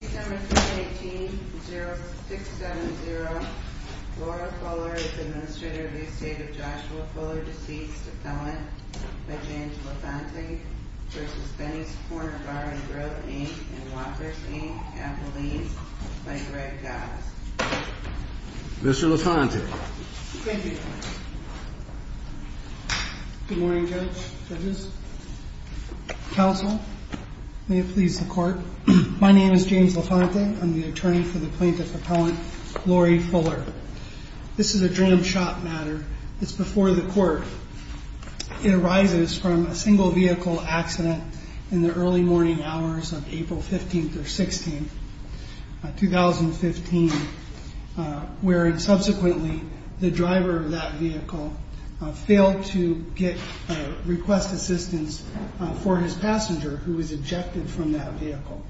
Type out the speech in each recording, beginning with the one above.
670 Laura Fuller v. Administrator of the Estate of Joshua Fuller, Deceased, Appellant, by James LaFontaine v. Benny's Corner Bar and Grill, Inc. and Walker's, Inc., Appellees, by Greg Goss. Mr. LaFontaine. Thank you. Good morning, Judge Judges. Counsel, may it please the Court. My name is James LaFontaine. I'm the attorney for the plaintiff, Appellant Laurie Fuller. This is a dram shop matter. It's before the Court. It arises from a single vehicle accident in the early morning hours of April 15th or 16th, 2015, where subsequently the driver of that vehicle failed to get request assistance for his passenger who was ejected from that vehicle.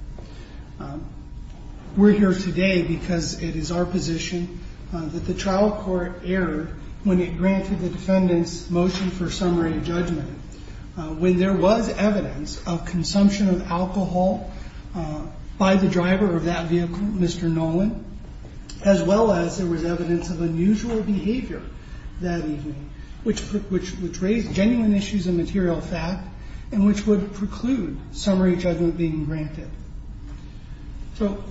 We're here today because it is our position that the trial court erred when it granted the defendant's motion for summary judgment when there was evidence of consumption of alcohol by the driver of that vehicle, Mr. Nolan, as well as there was evidence of unusual behavior that evening, which raised genuine issues of material fact and which would preclude summary judgment being granted. So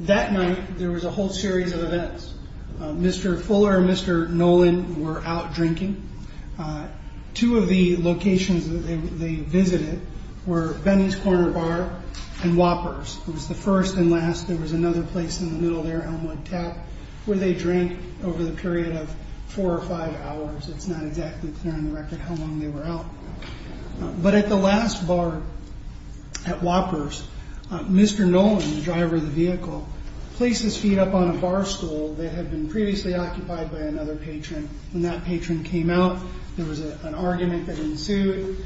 that night, there was a whole series of events. Mr. Fuller and Mr. Nolan were out drinking. Two of the locations that they visited were Benny's Corner Bar and Whoppers. It was the first and last. There was another place in the middle there, Elmwood Tap, where they drank over the period of four or five hours. It's not exactly clear on the record how long they were out. But at the last bar at Whoppers, Mr. Nolan, the driver of the vehicle, placed his feet up on a barstool that had been previously occupied by another patron. When that patron came out, there was an argument that ensued.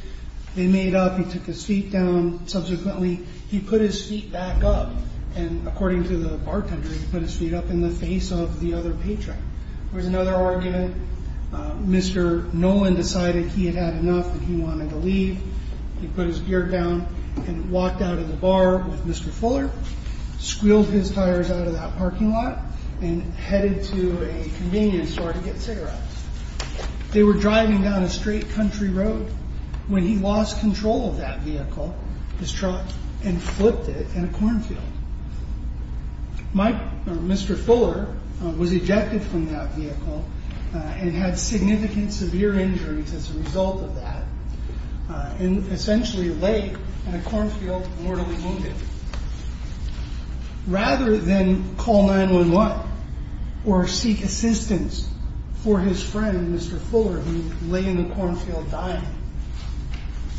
They made up. He took his feet down. Subsequently, he put his feet back up. And according to the bartender, he put his feet up in the face of the other patron. There was another argument. Mr. Nolan decided he had had enough and he wanted to leave. He put his gear down and walked out of the bar with Mr. Fuller, squealed his tires out of that parking lot, and headed to a convenience store to get cigarettes. They were driving down a straight country road when he lost control of that vehicle, his truck, and flipped it in a cornfield. Mr. Fuller was ejected from that vehicle and had significant severe injuries as a result of that and essentially lay in a cornfield mortally wounded. Rather than call 911 or seek assistance for his friend, Mr. Fuller, who lay in the cornfield dying,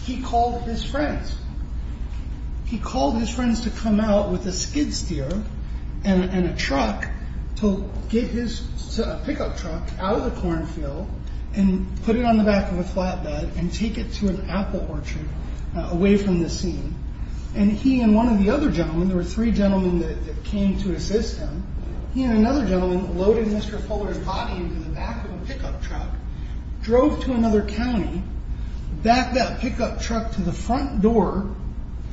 he called his friends. He called his friends to come out with a skid steer and a truck to get his pickup truck out of the cornfield and put it on the back of a flatbed and take it to an apple orchard away from the scene. And he and one of the other gentlemen, there were three gentlemen that came to assist him, he and another gentleman loaded Mr. Fuller's body into the back of a pickup truck, drove to another county, backed that pickup truck to the front door,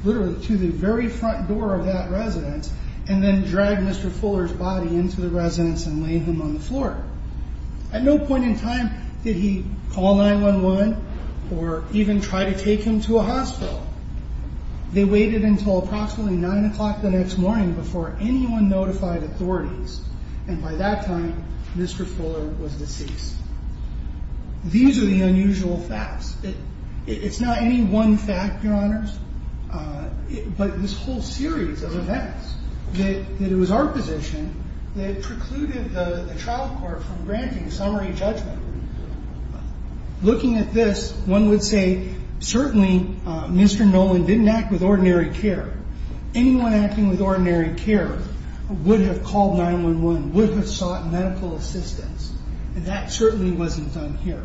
literally to the very front door of that residence, and then dragged Mr. Fuller's body into the residence and laid him on the floor. At no point in time did he call 911 or even try to take him to a hospital. They waited until approximately 9 o'clock the next morning before anyone notified authorities. And by that time, Mr. Fuller was deceased. These are the unusual facts. It's not any one fact, Your Honors, but this whole series of events that it was our position that precluded the trial court from granting a summary judgment. Looking at this, one would say certainly Mr. Nolan didn't act with ordinary care. Anyone acting with ordinary care would have called 911, would have sought medical assistance, and that certainly wasn't done here.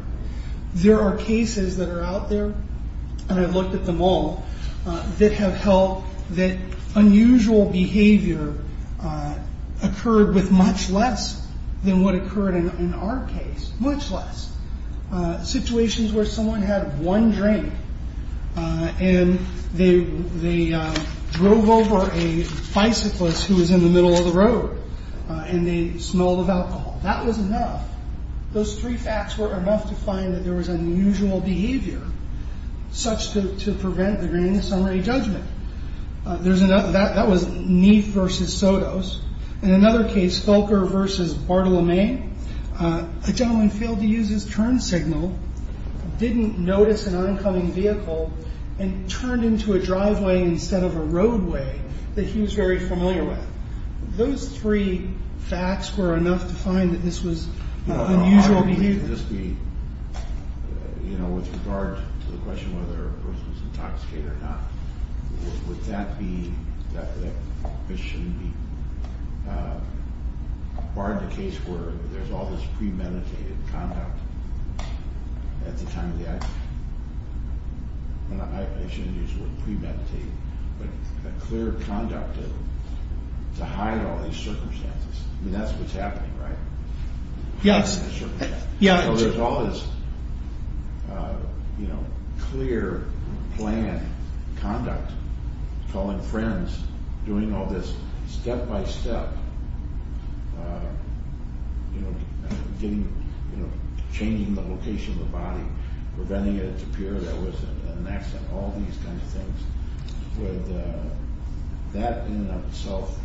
There are cases that are out there, and I've looked at them all, that have held that unusual behavior occurred with much less than what occurred in our case, much less. Situations where someone had one drink and they drove over a bicyclist who was in the middle of the road and they smelled of alcohol. That was enough. Those three facts were enough to find that there was unusual behavior such to prevent the granting of summary judgment. That was Neef versus Sotos. In another case, Fulker versus Bartolome. A gentleman failed to use his turn signal, didn't notice an oncoming vehicle, and turned into a driveway instead of a roadway that he was very familiar with. Those three facts were enough to find that this was unusual behavior. Would this be, you know, with regard to the question whether a person is intoxicated or not, would that be, that this shouldn't be, barred the case where there's all this premeditated conduct at the time of the accident. I shouldn't use the word premeditated, but a clear conduct to hide all these circumstances. I mean, that's what's happening, right? Yes. There's all this, you know, clear planned conduct, calling friends, doing all this step by step, you know, changing the location of the body, preventing it to appear that it was an accident, all these kinds of things. Would that in and of itself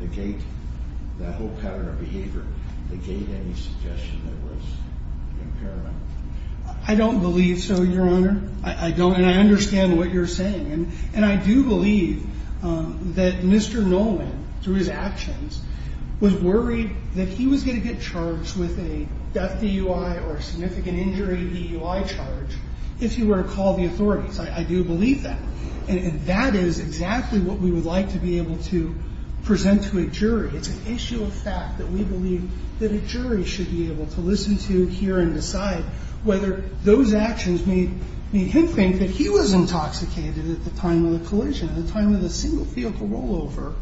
negate that whole pattern of behavior, negate any suggestion that it was impairment? I don't believe so, Your Honor. I don't, and I understand what you're saying. And I do believe that Mr. Nolan, through his actions, was worried that he was going to get charged with a death DUI or a significant injury DUI charge if he were to call the authorities. I do believe that. And that is exactly what we would like to be able to present to a jury. It's an issue of fact that we believe that a jury should be able to listen to, hear, and decide whether those actions made him think that he was intoxicated at the time of the collision, at the time of the single vehicle rollover.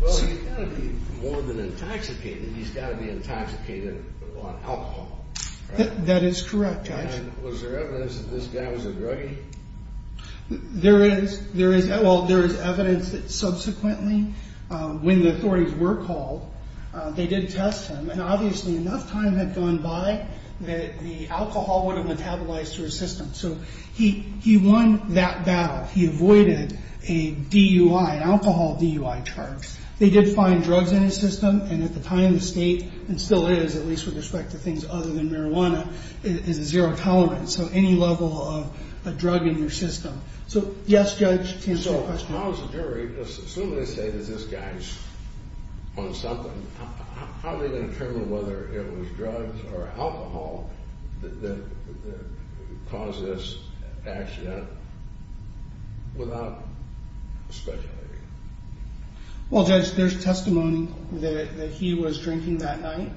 Well, he's got to be more than intoxicated. He's got to be intoxicated on alcohol. That is correct, Judge. And was there evidence that this guy was a druggy? There is. There is. Well, there is evidence that subsequently, when the authorities were called, they did test him. And obviously enough time had gone by that the alcohol would have metabolized through his system. So he won that battle. He avoided a DUI, an alcohol DUI charge. They did find drugs in his system. And at the time of the state, and still is, at least with respect to things other than marijuana, is a zero tolerance. So any level of a drug in your system. So, yes, Judge, to answer your question. So, now as a jury, as soon as they say that this guy's on something, how are they going to determine whether it was drugs or alcohol that caused this accident without speculating? Well, Judge, there's testimony that he was drinking that night.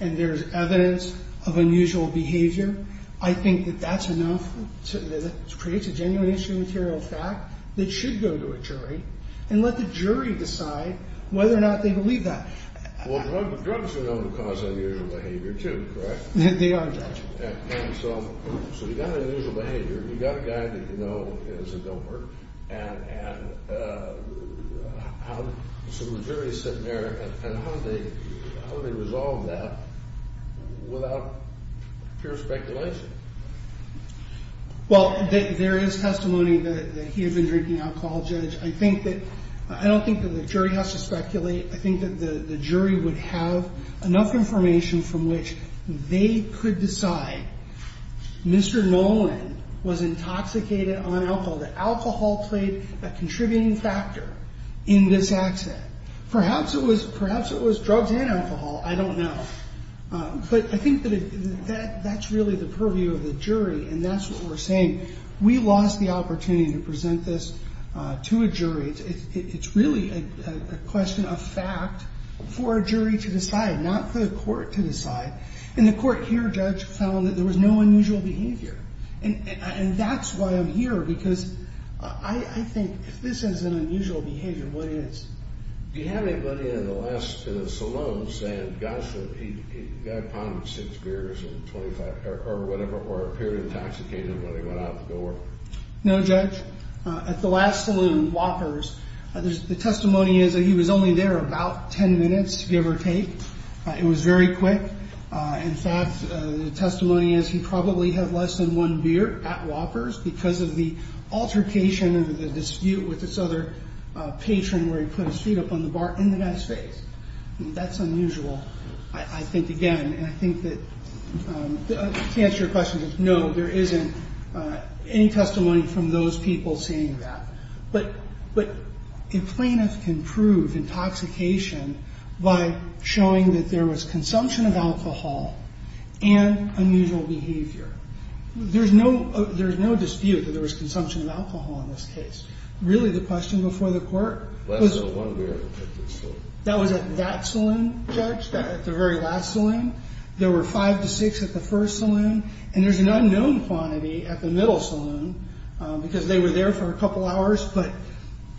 And there's evidence of unusual behavior. I think that that's enough to create a genuine issue material fact that should go to a jury and let the jury decide whether or not they believe that. Well, drugs are known to cause unusual behavior too, correct? They are, Judge. So you've got an unusual behavior. You've got a guy that you know is a doper. And so the jury is sitting there. And how do they resolve that without pure speculation? Well, there is testimony that he had been drinking alcohol, Judge. I don't think that the jury has to speculate. I think that the jury would have enough information from which they could decide Mr. Nolan was intoxicated on alcohol, that alcohol played a contributing factor in this accident. Perhaps it was drugs and alcohol. I don't know. But I think that that's really the purview of the jury, and that's what we're saying. We lost the opportunity to present this to a jury. It's really a question of fact for a jury to decide, not for the court to decide. In the court here, Judge, found that there was no unusual behavior. And that's why I'm here, because I think if this is an unusual behavior, what is? Do you have anybody in the last saloon saying, gosh, he got caught in six beers in 25 or whatever, or appeared intoxicated when he went out the door? No, Judge. At the last saloon, Whoppers, the testimony is that he was only there about 10 minutes, give or take. It was very quick. In fact, the testimony is he probably had less than one beer at Whoppers because of the altercation or the dispute with this other patron where he put his feet up on the bar in the guy's face. That's unusual, I think, again. And I think that to answer your question, Judge, no, there isn't any testimony from those people saying that. But a plaintiff can prove intoxication by showing that there was consumption of alcohol and unusual behavior. There's no dispute that there was consumption of alcohol in this case. Really, the question before the court was at that saloon, Judge, at the very last saloon. There were five to six at the first saloon, and there's an unknown quantity at the middle saloon because they were there for a couple hours. But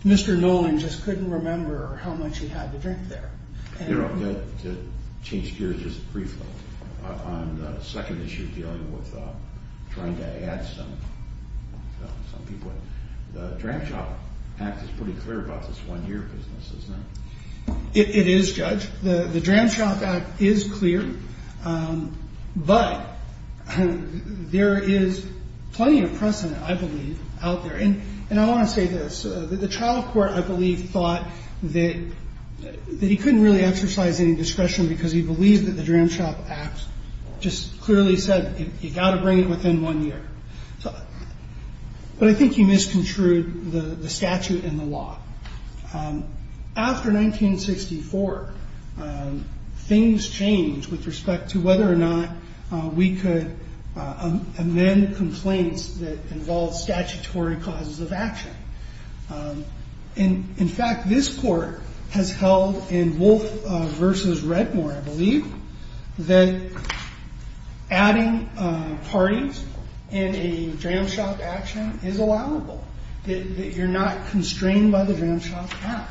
Mr. Nolan just couldn't remember how much he had to drink there. You know, to change gears just briefly on the second issue dealing with trying to add some people in, the Dram Shop Act is pretty clear about this one-year business, isn't it? It is, Judge. The Dram Shop Act is clear, but there is plenty of precedent, I believe, out there. And I want to say this. The trial court, I believe, thought that he couldn't really exercise any discretion because he believed that the Dram Shop Act just clearly said you've got to bring it within one year. But I think you misconstrued the statute and the law. After 1964, things changed with respect to whether or not we could amend complaints that involved statutory causes of action. In fact, this court has held in Wolf v. Redmore, I believe, that adding parties in a Dram Shop action is allowable, that you're not constrained by the Dram Shop Act.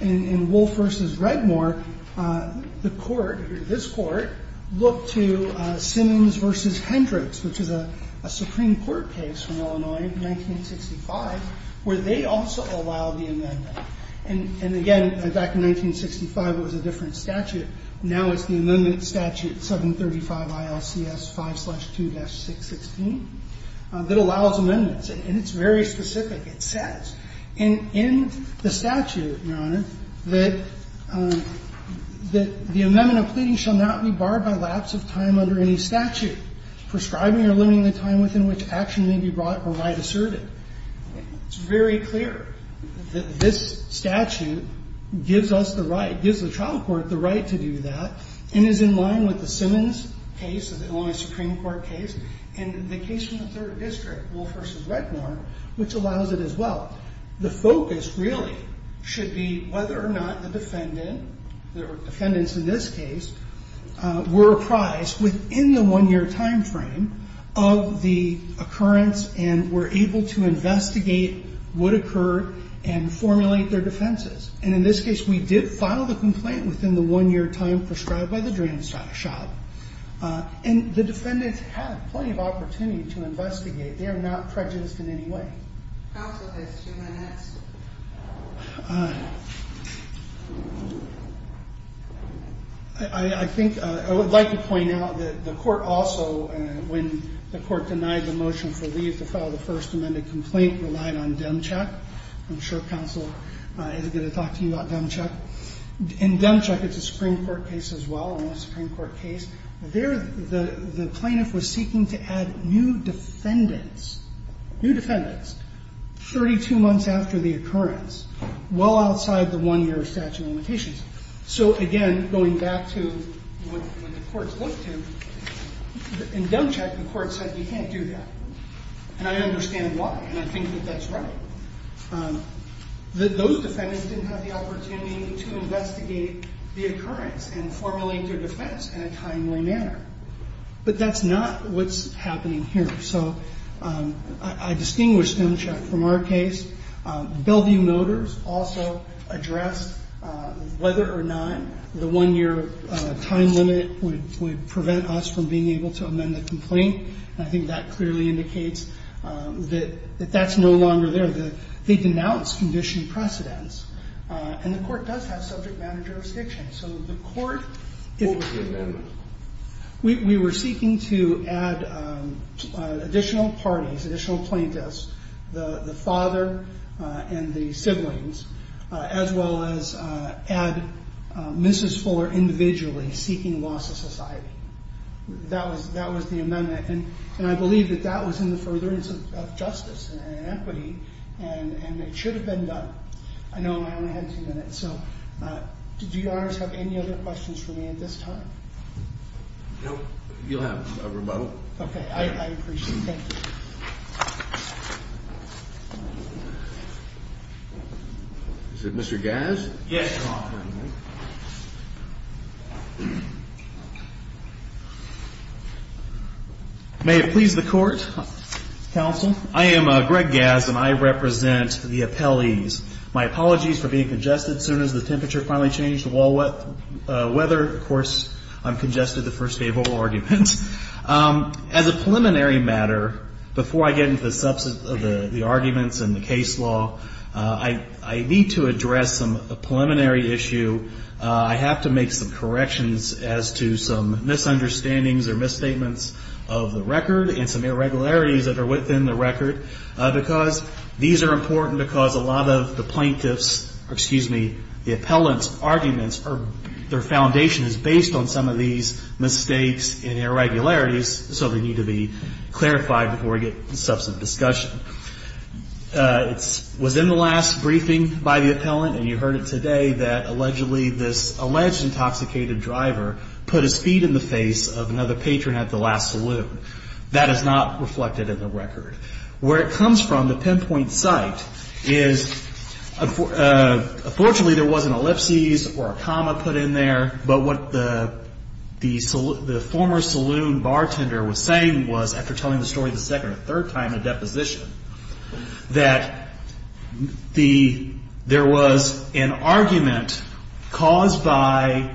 In Wolf v. Redmore, the court, this court, looked to Simmons v. Hendricks, which is a Supreme Court case from Illinois in 1965, where they also allowed the amendment. And again, back in 1965, it was a different statute. Now it's the amendment statute, 735 ILCS 5-2-616, that allows amendments. And it's very specific. It says. And in the statute, Your Honor, that the amendment of pleading shall not be barred by lapse of time under any statute, prescribing or limiting the time within which action may be brought or right asserted. It's very clear that this statute gives us the right, gives the trial court the right to do that, and is in line with the Simmons case, the Illinois Supreme Court case, and the case from the Third District, Wolf v. Redmore, which allows it as well. The focus really should be whether or not the defendant, the defendants in this case, were apprised within the one-year time frame of the occurrence and were able to investigate what occurred and formulate their defenses. And in this case, we did file the complaint within the one-year time prescribed by the Dram Shop. And the defendants had plenty of opportunity to investigate. They are not prejudiced in any way. Counsel has two minutes. I think I would like to point out that the court also, when the court denied the motion for leave to file the First Amendment complaint, relied on Demcheck. I'm sure counsel is going to talk to you about Demcheck. In Demcheck, it's a Supreme Court case as well, an Illinois Supreme Court case. The plaintiff was seeking to add new defendants, new defendants, 32 months after the occurrence, well outside the one-year statute of limitations. So again, going back to what the courts looked to, in Demcheck, the court said you can't do that. And I understand why, and I think that that's right. Those defendants didn't have the opportunity to investigate the occurrence and formulate their defense in a timely manner. But that's not what's happening here. So I distinguish Demcheck from our case. Bellevue Motors also addressed whether or not the one-year time limit would prevent us from being able to amend the complaint. And I think that clearly indicates that that's no longer there. They denounced conditioned precedents, and the court does have subject matter jurisdiction. So the court- What was the amendment? We were seeking to add additional parties, additional plaintiffs, the father and the siblings, as well as add Mrs. Fuller individually seeking loss of society. That was the amendment. And I believe that that was in the furtherance of justice and equity, and it should have been done. I know I only had two minutes, so did you, Your Honors, have any other questions for me at this time? No. You'll have a rebuttal. Okay, I appreciate it. Thank you. Is it Mr. Gass? Yes, Your Honor. May it please the Court, counsel. I am Greg Gass, and I represent the appellees. My apologies for being congested as soon as the temperature finally changed to wall weather. Of course, I'm congested the first day of all arguments. As a preliminary matter, before I get into the substance of the arguments and the case law, I need to address a preliminary issue. I have to make some corrections as to some misunderstandings or misstatements of the record and some irregularities that are within the record, because these are important, because a lot of the plaintiffs' or, excuse me, the appellant's arguments, their foundation is based on some of these mistakes and irregularities, so they need to be clarified before we get to the substance of the discussion. It was in the last briefing by the appellant, and you heard it today, that allegedly this alleged intoxicated driver put his feet in the face of another patron at the last saloon. That is not reflected in the record. Where it comes from, the pinpoint site, is unfortunately there was an ellipsis or a comma put in there, but what the former saloon bartender was saying was, after telling the story the second or third time, a deposition, that there was an argument caused by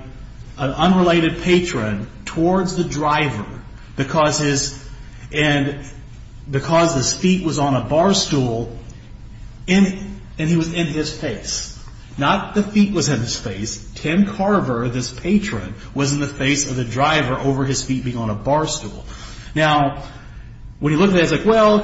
an unrelated patron towards the driver, because his feet was on a bar stool, and he was in his face. Not the feet was in his face. Tim Carver, this patron, was in the face of the driver over his feet being on a bar stool. Now, when you look at it, it's like, well,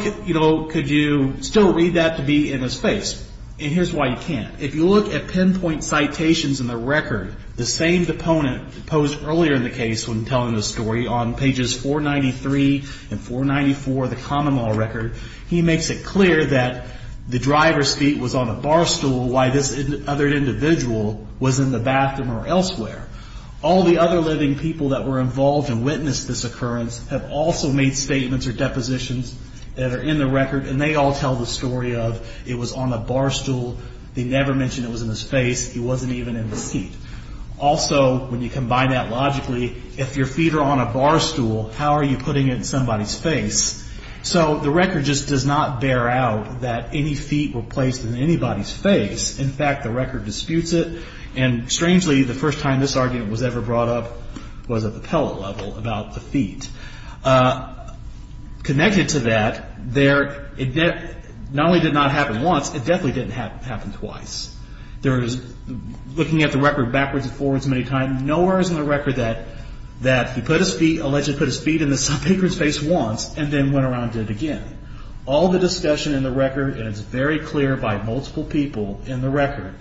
could you still read that to be in his face? And here's why you can't. If you look at pinpoint citations in the record, the same deponent posed earlier in the case when telling the story, on pages 493 and 494 of the common law record, he makes it clear that the driver's feet was on a bar stool, why this other individual was in the bathroom or elsewhere. All the other living people that were involved and witnessed this occurrence have also made statements or depositions that are in the record, and they all tell the story of, it was on a bar stool, they never mentioned it was in his face, it wasn't even in the seat. Also, when you combine that logically, if your feet are on a bar stool, how are you putting it in somebody's face? So the record just does not bear out that any feet were placed in anybody's face. In fact, the record disputes it. And strangely, the first time this argument was ever brought up was at the appellate level about the feet. Connected to that, it not only did not happen once, it definitely didn't happen twice. Looking at the record backwards and forwards many times, nowhere is in the record that he allegedly put his feet in some patron's face once and then went around and did it again. All the discussion in the record, and it's very clear by multiple people in the record,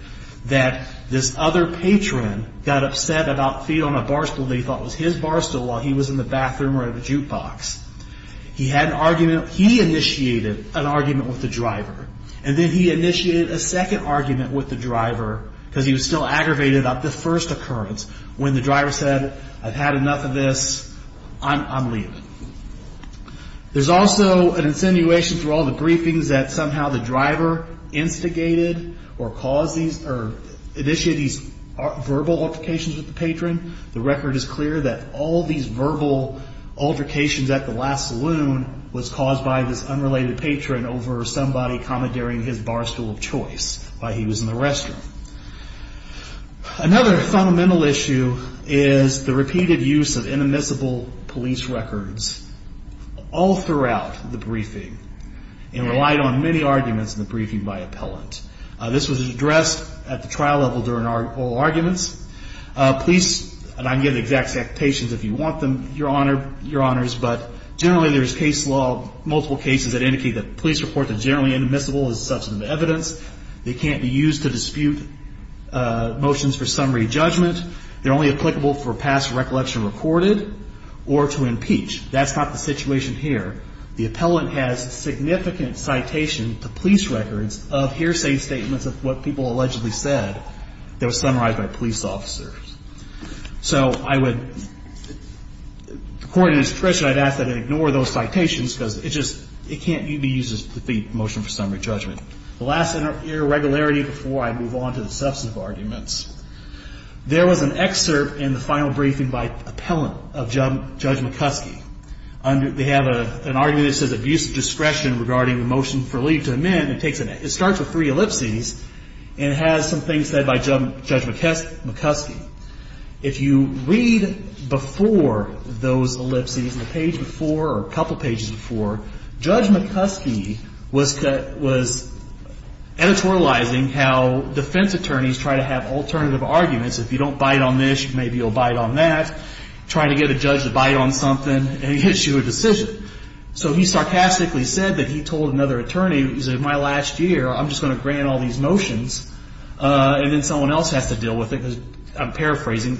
that this other patron got upset about feet on a bar stool that he thought was his bar stool while he was in the bathroom or in the jukebox. He initiated an argument with the driver, and then he initiated a second argument with the driver, because he was still aggravated about the first occurrence when the driver said, I've had enough of this, I'm leaving. There's also an insinuation through all the briefings that somehow the driver instigated or caused these, or initiated these verbal altercations with the patron. The record is clear that all these verbal altercations at the last saloon was caused by this unrelated patron over somebody commandeering his bar stool of choice while he was in the restroom. Another fundamental issue is the repeated use of inadmissible police records all throughout the briefing, and relied on many arguments in the briefing by appellant. This was addressed at the trial level during oral arguments. Police, and I'm giving exact statements if you want them, Your Honors, but generally there's case law, multiple cases that indicate that police reports are generally inadmissible as a substance of evidence. They can't be used to dispute motions for summary judgment. They're only applicable for past recollection recorded or to impeach. That's not the situation here. The appellant has significant citation to police records of hearsay statements of what people allegedly said that was summarized by police officers. So I would, according to discretion, I'd ask that they ignore those citations because it just, it can't be used to defeat motion for summary judgment. The last irregularity before I move on to the substantive arguments. There was an excerpt in the final briefing by appellant of Judge McCuskey. They have an argument that says abuse of discretion regarding the motion for leave to amend. It starts with three ellipses and has some things said by Judge McCuskey. If you read before those ellipses, the page before or a couple pages before, Judge McCuskey was editorializing how defense attorneys try to have alternative arguments. If you don't bite on this, maybe you'll bite on that. Try to get a judge to bite on something and issue a decision. So he sarcastically said that he told another attorney, he said, my last year I'm just going to grant all these motions and then someone else has to deal with it. I'm paraphrasing.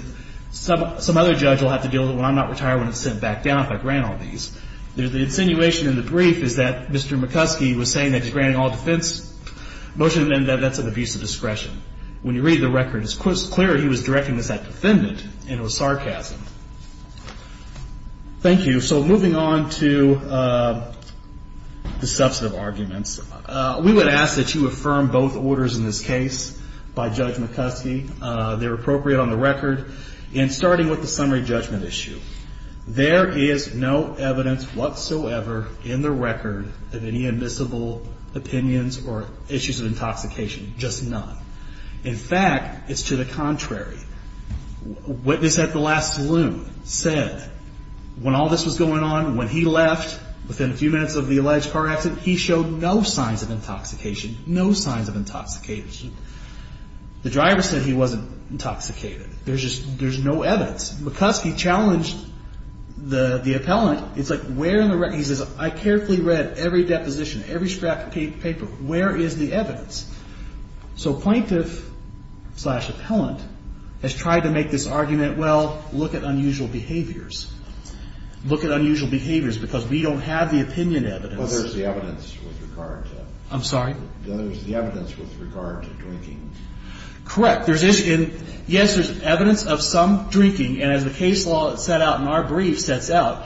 Some other judge will have to deal with it when I'm not retired when it's sent back down if I grant all these. The insinuation in the brief is that Mr. McCuskey was saying that he's granting all defense motions and that's an abuse of discretion. When you read the record, it's clear he was directing this at defendant and it was sarcasm. Thank you. So moving on to the substantive arguments. We would ask that you affirm both orders in this case by Judge McCuskey. They're appropriate on the record. And starting with the summary judgment issue, there is no evidence whatsoever in the record of any admissible opinions or issues of intoxication. Just none. In fact, it's to the contrary. Witness at the last saloon said when all this was going on, when he left within a few minutes of the alleged car accident, he showed no signs of intoxication, no signs of intoxication. The driver said he wasn't intoxicated. There's just no evidence. McCuskey challenged the appellant. It's like where in the record? He says, I carefully read every deposition, every scrap of paper. Where is the evidence? So plaintiff-slash-appellant has tried to make this argument, well, look at unusual behaviors. Look at unusual behaviors because we don't have the opinion evidence. Well, there's the evidence with regard to it. I'm sorry? There's the evidence with regard to drinking. Correct. Yes, there's evidence of some drinking. And as the case law set out in our brief sets out,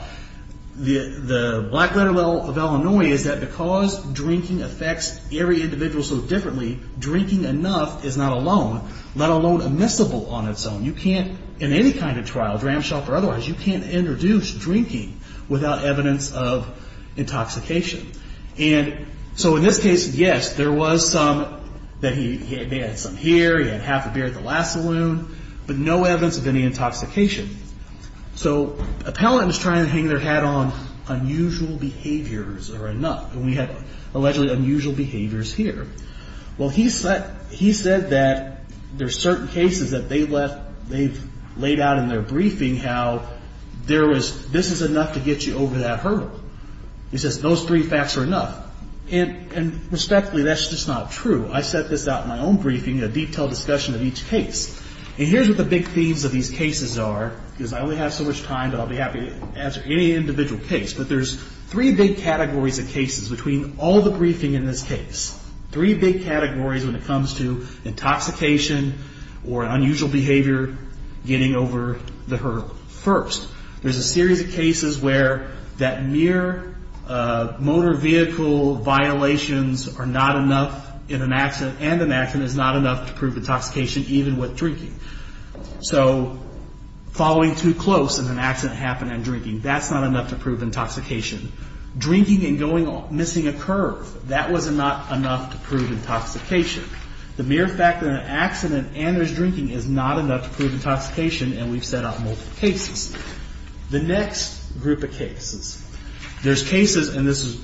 the black-letter law of Illinois is that because drinking affects every individual so differently, drinking enough is not alone, let alone admissible on its own. You can't in any kind of trial, dramshackle or otherwise, you can't introduce drinking without evidence of intoxication. And so in this case, yes, there was some that he had some here, he had half a beer at the last saloon, but no evidence of any intoxication. So appellant was trying to hang their hat on unusual behaviors are enough, and we have allegedly unusual behaviors here. Well, he said that there's certain cases that they've laid out in their briefing how this is enough to get you over that hurdle. He says those three facts are enough. And respectfully, that's just not true. I set this out in my own briefing, a detailed discussion of each case. And here's what the big themes of these cases are, because I only have so much time, but I'll be happy to answer any individual case. But there's three big categories of cases between all the briefing in this case, three big categories when it comes to intoxication or unusual behavior getting over the hurdle. First, there's a series of cases where that mere motor vehicle violations are not enough and an accident is not enough to prove intoxication even with drinking. So following too close and an accident happened and drinking, that's not enough to prove intoxication. Drinking and missing a curve, that was not enough to prove intoxication. The mere fact that an accident and there's drinking is not enough to prove intoxication, and we've set up multiple cases. The next group of cases, there's cases, and this is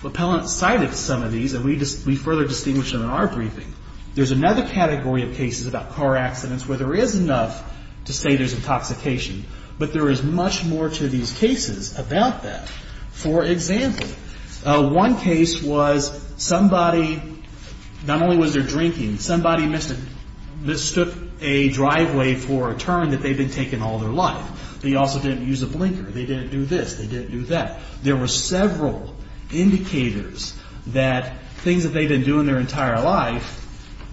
what appellant cited in some of these, and we further distinguish them in our briefing. There's another category of cases about car accidents where there is enough to say there's intoxication, but there is much more to these cases about that. For example, one case was somebody, not only was there drinking, somebody mistook a driveway for a turn that they'd been taking all their life. They also didn't use a blinker. They didn't do this. They didn't do that. There were several indicators that things that they didn't do in their entire life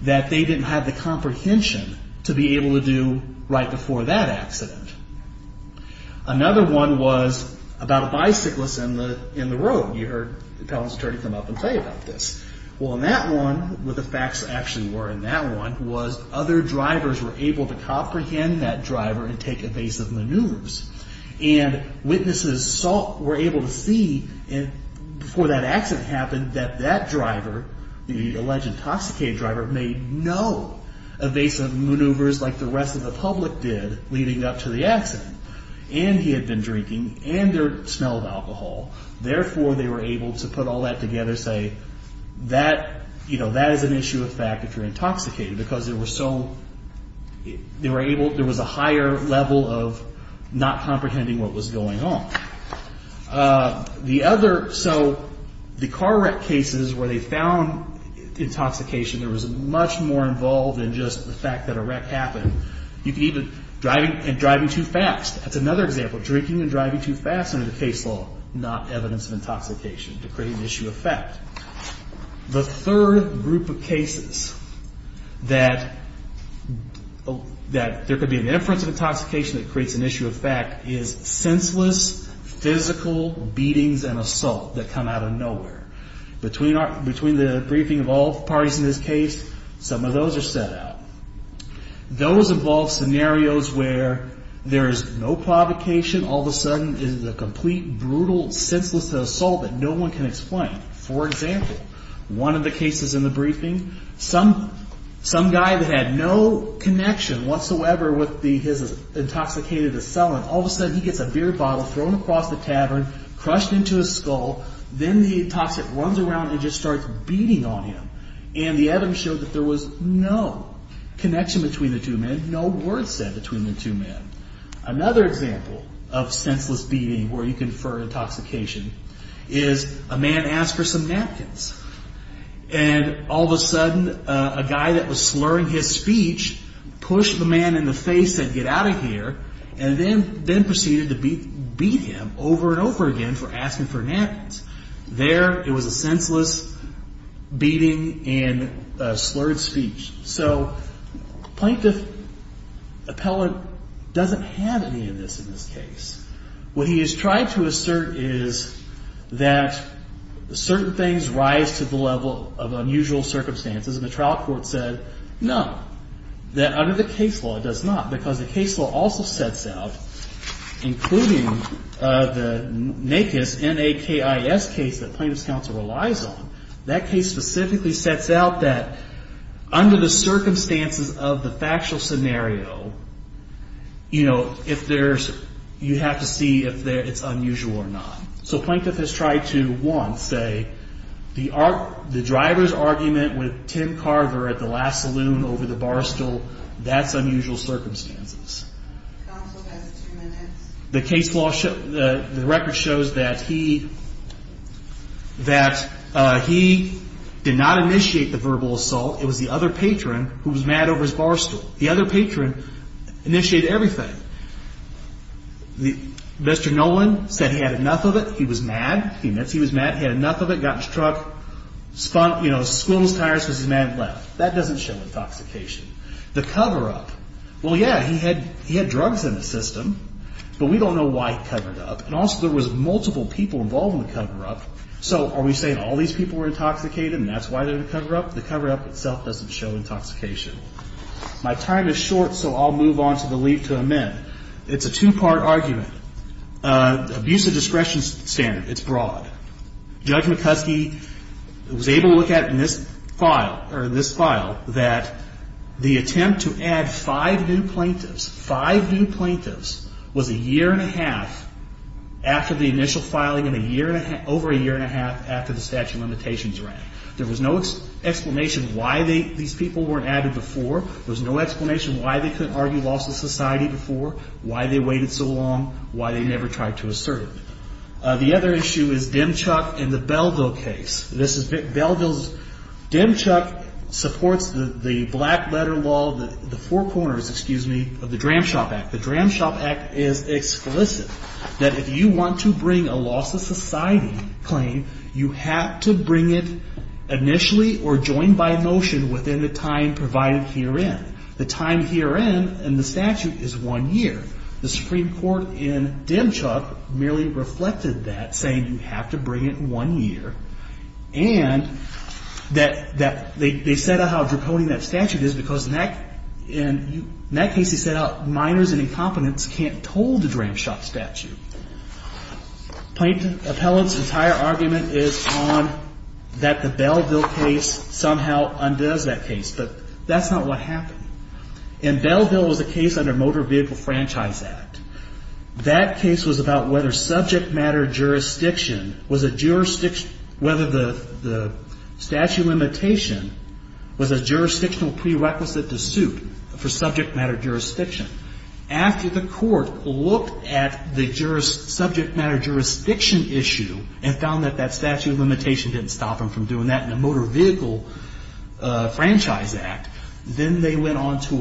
that they didn't have the comprehension to be able to do right before that accident. Another one was about a bicyclist in the road. You heard the appellant's attorney come up and tell you about this. Well, in that one, what the facts actually were in that one was other drivers were able to comprehend that driver and take evasive maneuvers, and witnesses were able to see before that accident happened that that driver, the alleged intoxicated driver, made no evasive maneuvers like the rest of the public did leading up to the accident, and he had been drinking, and there smelled alcohol. Therefore, they were able to put all that together, say that is an issue of fact if you're intoxicated, because there was a higher level of not comprehending what was going on. So the car wreck cases where they found intoxication, there was much more involved than just the fact that a wreck happened. You could even driving too fast. That's another example, drinking and driving too fast under the case law, not evidence of intoxication to create an issue of fact. The third group of cases that there could be an inference of intoxication that creates an issue of fact is senseless physical beatings and assault that come out of nowhere. Between the briefing of all parties in this case, some of those are set out. Those involve scenarios where there is no provocation. All of a sudden, it is a complete, brutal, senseless assault that no one can explain. For example, one of the cases in the briefing, some guy that had no connection whatsoever with his intoxicated assailant, all of a sudden he gets a beer bottle thrown across the tavern, crushed into his skull. Then the intoxicant runs around and just starts beating on him, and the evidence showed that there was no connection between the two men, no words said between the two men. Another example of senseless beating where you confer intoxication is a man asks for some napkins. All of a sudden, a guy that was slurring his speech pushed the man in the face and said, get out of here, and then proceeded to beat him over and over again for asking for napkins. There, it was a senseless beating and a slurred speech. Plaintiff appellant doesn't have any of this in this case. What he is trying to assert is that certain things rise to the level of unusual circumstances, and the trial court said no, that under the case law, it does not, because the case law also sets out, including the NAKIS case that plaintiff's counsel relies on, that case specifically sets out that under the circumstances of the factual scenario, you have to see if it's unusual or not. So plaintiff has tried to, one, say the driver's argument with Tim Carver at the last saloon over the bar stool, that's unusual circumstances. The case law, the record shows that he did not initiate the verbal assault. It was the other patron who was mad over his bar stool. The other patron initiated everything. Mr. Nolan said he had enough of it. He was mad. He admits he was mad. He had enough of it, got in his truck, squirreled his tires because his man had left. That doesn't show intoxication. The cover-up, well, yeah, he had drugs in the system, but we don't know why he covered up, and also there was multiple people involved in the cover-up. So are we saying all these people were intoxicated and that's why they're in the cover-up? The cover-up itself doesn't show intoxication. My time is short, so I'll move on to the leave to amend. It's a two-part argument. Abuse of discretion standard, it's broad. Judge McCuskey was able to look at it in this file that the attempt to add five new plaintiffs, five new plaintiffs, was a year and a half after the initial filing and over a year and a half after the statute of limitations ran. There was no explanation why these people weren't added before. There was no explanation why they couldn't argue loss of society before, why they waited so long, why they never tried to assert it. The other issue is Demchuk and the Belville case. This is Belville's. Demchuk supports the black-letter law, the four corners, excuse me, of the Dram Shop Act. The Dram Shop Act is explicit that if you want to bring a loss of society claim, you have to bring it initially or joined by motion within the time provided herein. The time herein in the statute is one year. The Supreme Court in Demchuk merely reflected that, saying you have to bring it in one year. And they set out how draconian that statute is because in that case, they set out minors and incompetents can't toll the Dram Shop statute. Appellant's entire argument is on that the Belville case somehow undoes that case, but that's not what happened. And Belville was a case under Motor Vehicle Franchise Act. That case was about whether subject matter jurisdiction was a jurisdiction, whether the statute of limitation was a jurisdictional prerequisite to suit for subject matter jurisdiction. After the court looked at the subject matter jurisdiction issue and found that that statute of limitation didn't stop them from doing that in the Motor Vehicle Franchise Act, then they went on to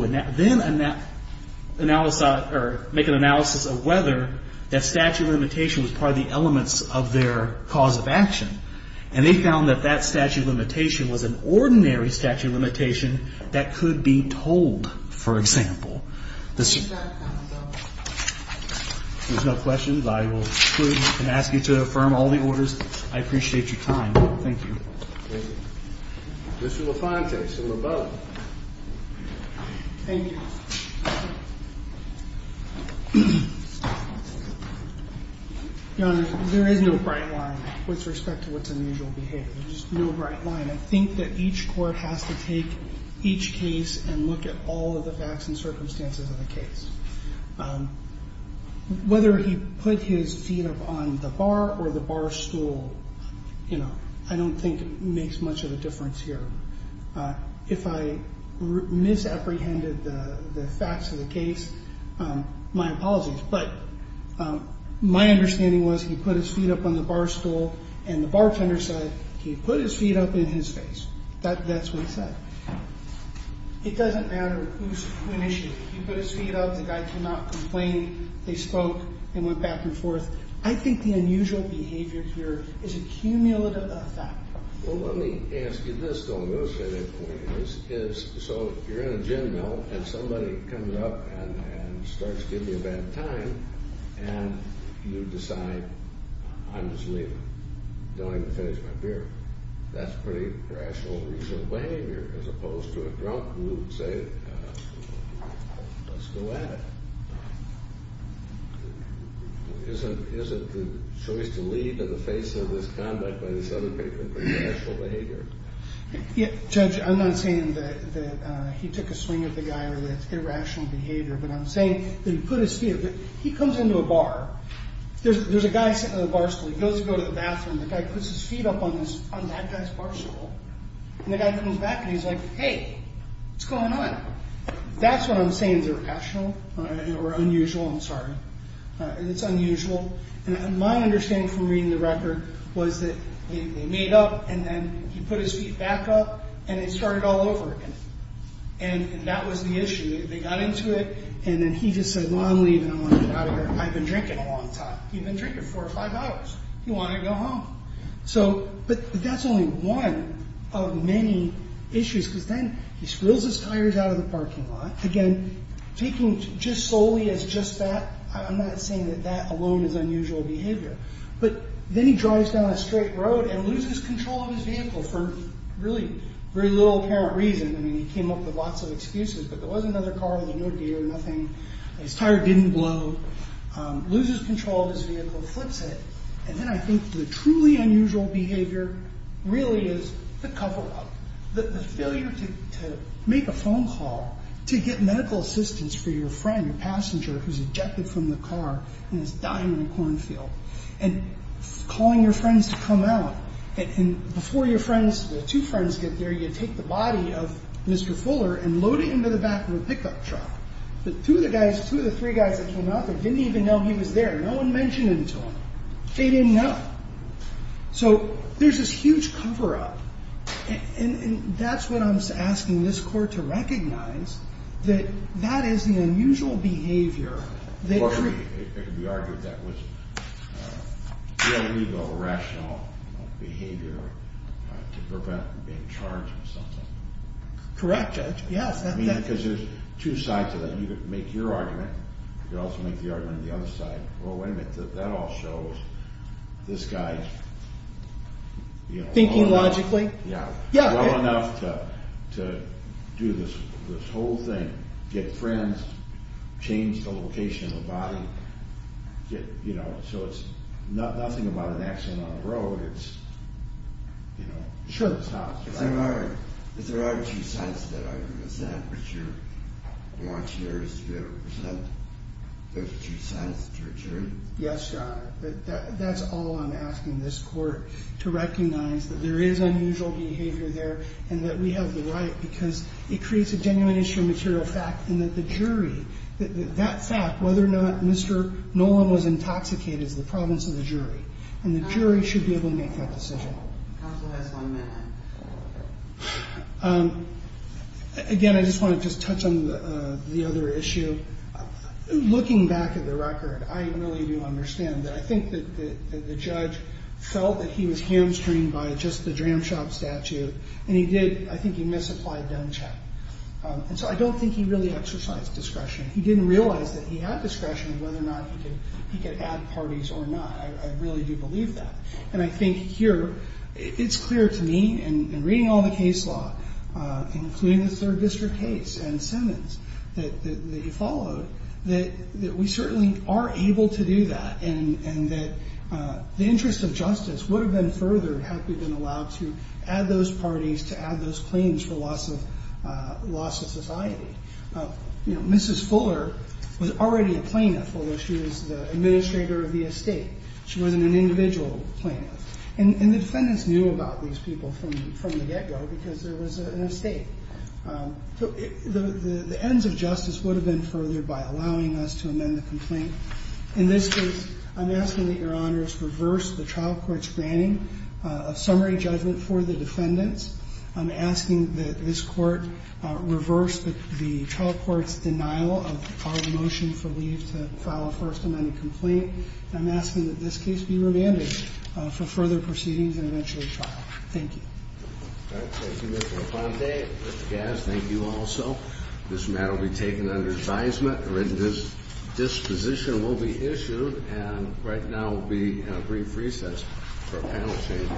make an analysis of whether that statute of limitation was part of the elements of their cause of action. And they found that that statute of limitation was an ordinary statute of limitation that could be tolled, for example. There's no questions. I will exclude and ask you to affirm all the orders. I appreciate your time. Thank you. Mr. LaFontaise from above. Thank you. Your Honor, there is no bright line with respect to what's unusual behavior. There's just no bright line. I think that each court has to take each case and look at all of the facts and circumstances of the case. Whether he put his feet up on the bar or the bar stool, I don't think makes much of a difference here. If I misapprehended the facts of the case, my apologies. But my understanding was he put his feet up on the bar stool and the bartender said he put his feet up in his face. That's what he said. It doesn't matter who initiated it. He put his feet up. The guy could not complain. They spoke. They went back and forth. I think the unusual behavior here is a cumulative effect. Well, let me ask you this, though. I'm going to say that for you. So you're in a gin mill and somebody comes up and starts giving you a bad time and you decide, I'm just leaving. Don't even finish my beer. That's pretty rational, reasonable behavior, as opposed to a drunk who would say, let's go at it. Is it the choice to leave in the face of this conduct by this other person? Pretty rational behavior. Judge, I'm not saying that he took a swing at the guy with irrational behavior, but I'm saying that he put his feet up. He comes into a bar. There's a guy sitting on the bar stool. He goes to go to the bathroom. The guy puts his feet up on that guy's bar stool. And the guy comes back and he's like, hey, what's going on? That's what I'm saying is irrational or unusual. I'm sorry. It's unusual. And my understanding from reading the record was that they made up and then he put his feet back up and it started all over again. And that was the issue. They got into it and then he just said, well, I'm leaving. I want to get out of here. I've been drinking a long time. He'd been drinking four or five hours. He wanted to go home. But that's only one of many issues because then he spills his tires out of the parking lot. Again, taking just solely as just that, I'm not saying that that alone is unusual behavior. But then he drives down a straight road and loses control of his vehicle for really very little apparent reason. I mean, he came up with lots of excuses. But there was another car. He knew a deer. Nothing. His tire didn't blow. Loses control of his vehicle, flips it. And then I think the truly unusual behavior really is the cover-up, the failure to make a phone call to get medical assistance for your friend, your passenger who's ejected from the car and is dying in a cornfield, and calling your friends to come out. And before your two friends get there, you take the body of Mr. Fuller and load it into the back of a pickup truck. But two of the three guys that came out there didn't even know he was there. No one mentioned him to them. They didn't know. So there's this huge cover-up. And that's what I'm asking this Court to recognize, that that is the unusual behavior. It could be argued that was illegal, irrational behavior to prevent being charged with something. Correct, Judge. Yes. Because there's two sides to that. You could make your argument. You could also make the argument on the other side. Well, wait a minute. That all shows this guy is well enough. Thinking logically? Yeah. Well enough to do this whole thing, get friends, change the location of the body. So it's nothing about an accident on the road. It's, you know, show the cops. If there are two sides to that argument, is that what you're wanting us to represent? There's two sides to a jury? Yes, Your Honor. But that's all I'm asking this Court to recognize, that there is unusual behavior there and that we have the right because it creates a genuine issue of material fact and that the jury, that fact, whether or not Mr. Nolan was intoxicated is the province of the jury. And the jury should be able to make that decision. Counsel has one minute. Again, I just want to just touch on the other issue. Looking back at the record, I really do understand that. I think that the judge felt that he was hamstringed by just the jam shop statute, and he did, I think he misapplied gun check. And so I don't think he really exercised discretion. He didn't realize that he had discretion whether or not he could add parties or not. I really do believe that. And I think here it's clear to me in reading all the case law, including the Third District case and Simmons, that you followed, that we certainly are able to do that and that the interest of justice would have been furthered had we been allowed to add those parties, to add those claims for loss of society. Mrs. Fuller was already a plaintiff, although she was the administrator of the estate. She wasn't an individual plaintiff. And the defendants knew about these people from the get-go because there was an estate. So the ends of justice would have been furthered by allowing us to amend the complaint. In this case, I'm asking that Your Honors reverse the trial court's granting of summary judgment for the defendants. I'm asking that this Court reverse the trial court's denial of our motion for leave to file a First Amendment complaint. And I'm asking that this case be remanded for further proceedings and eventually trial. Thank you. Thank you, Mr. Aponte. Mr. Gass, thank you also. This matter will be taken under advisement. A written disposition will be issued. And right now we'll be on a brief recess for panel changes.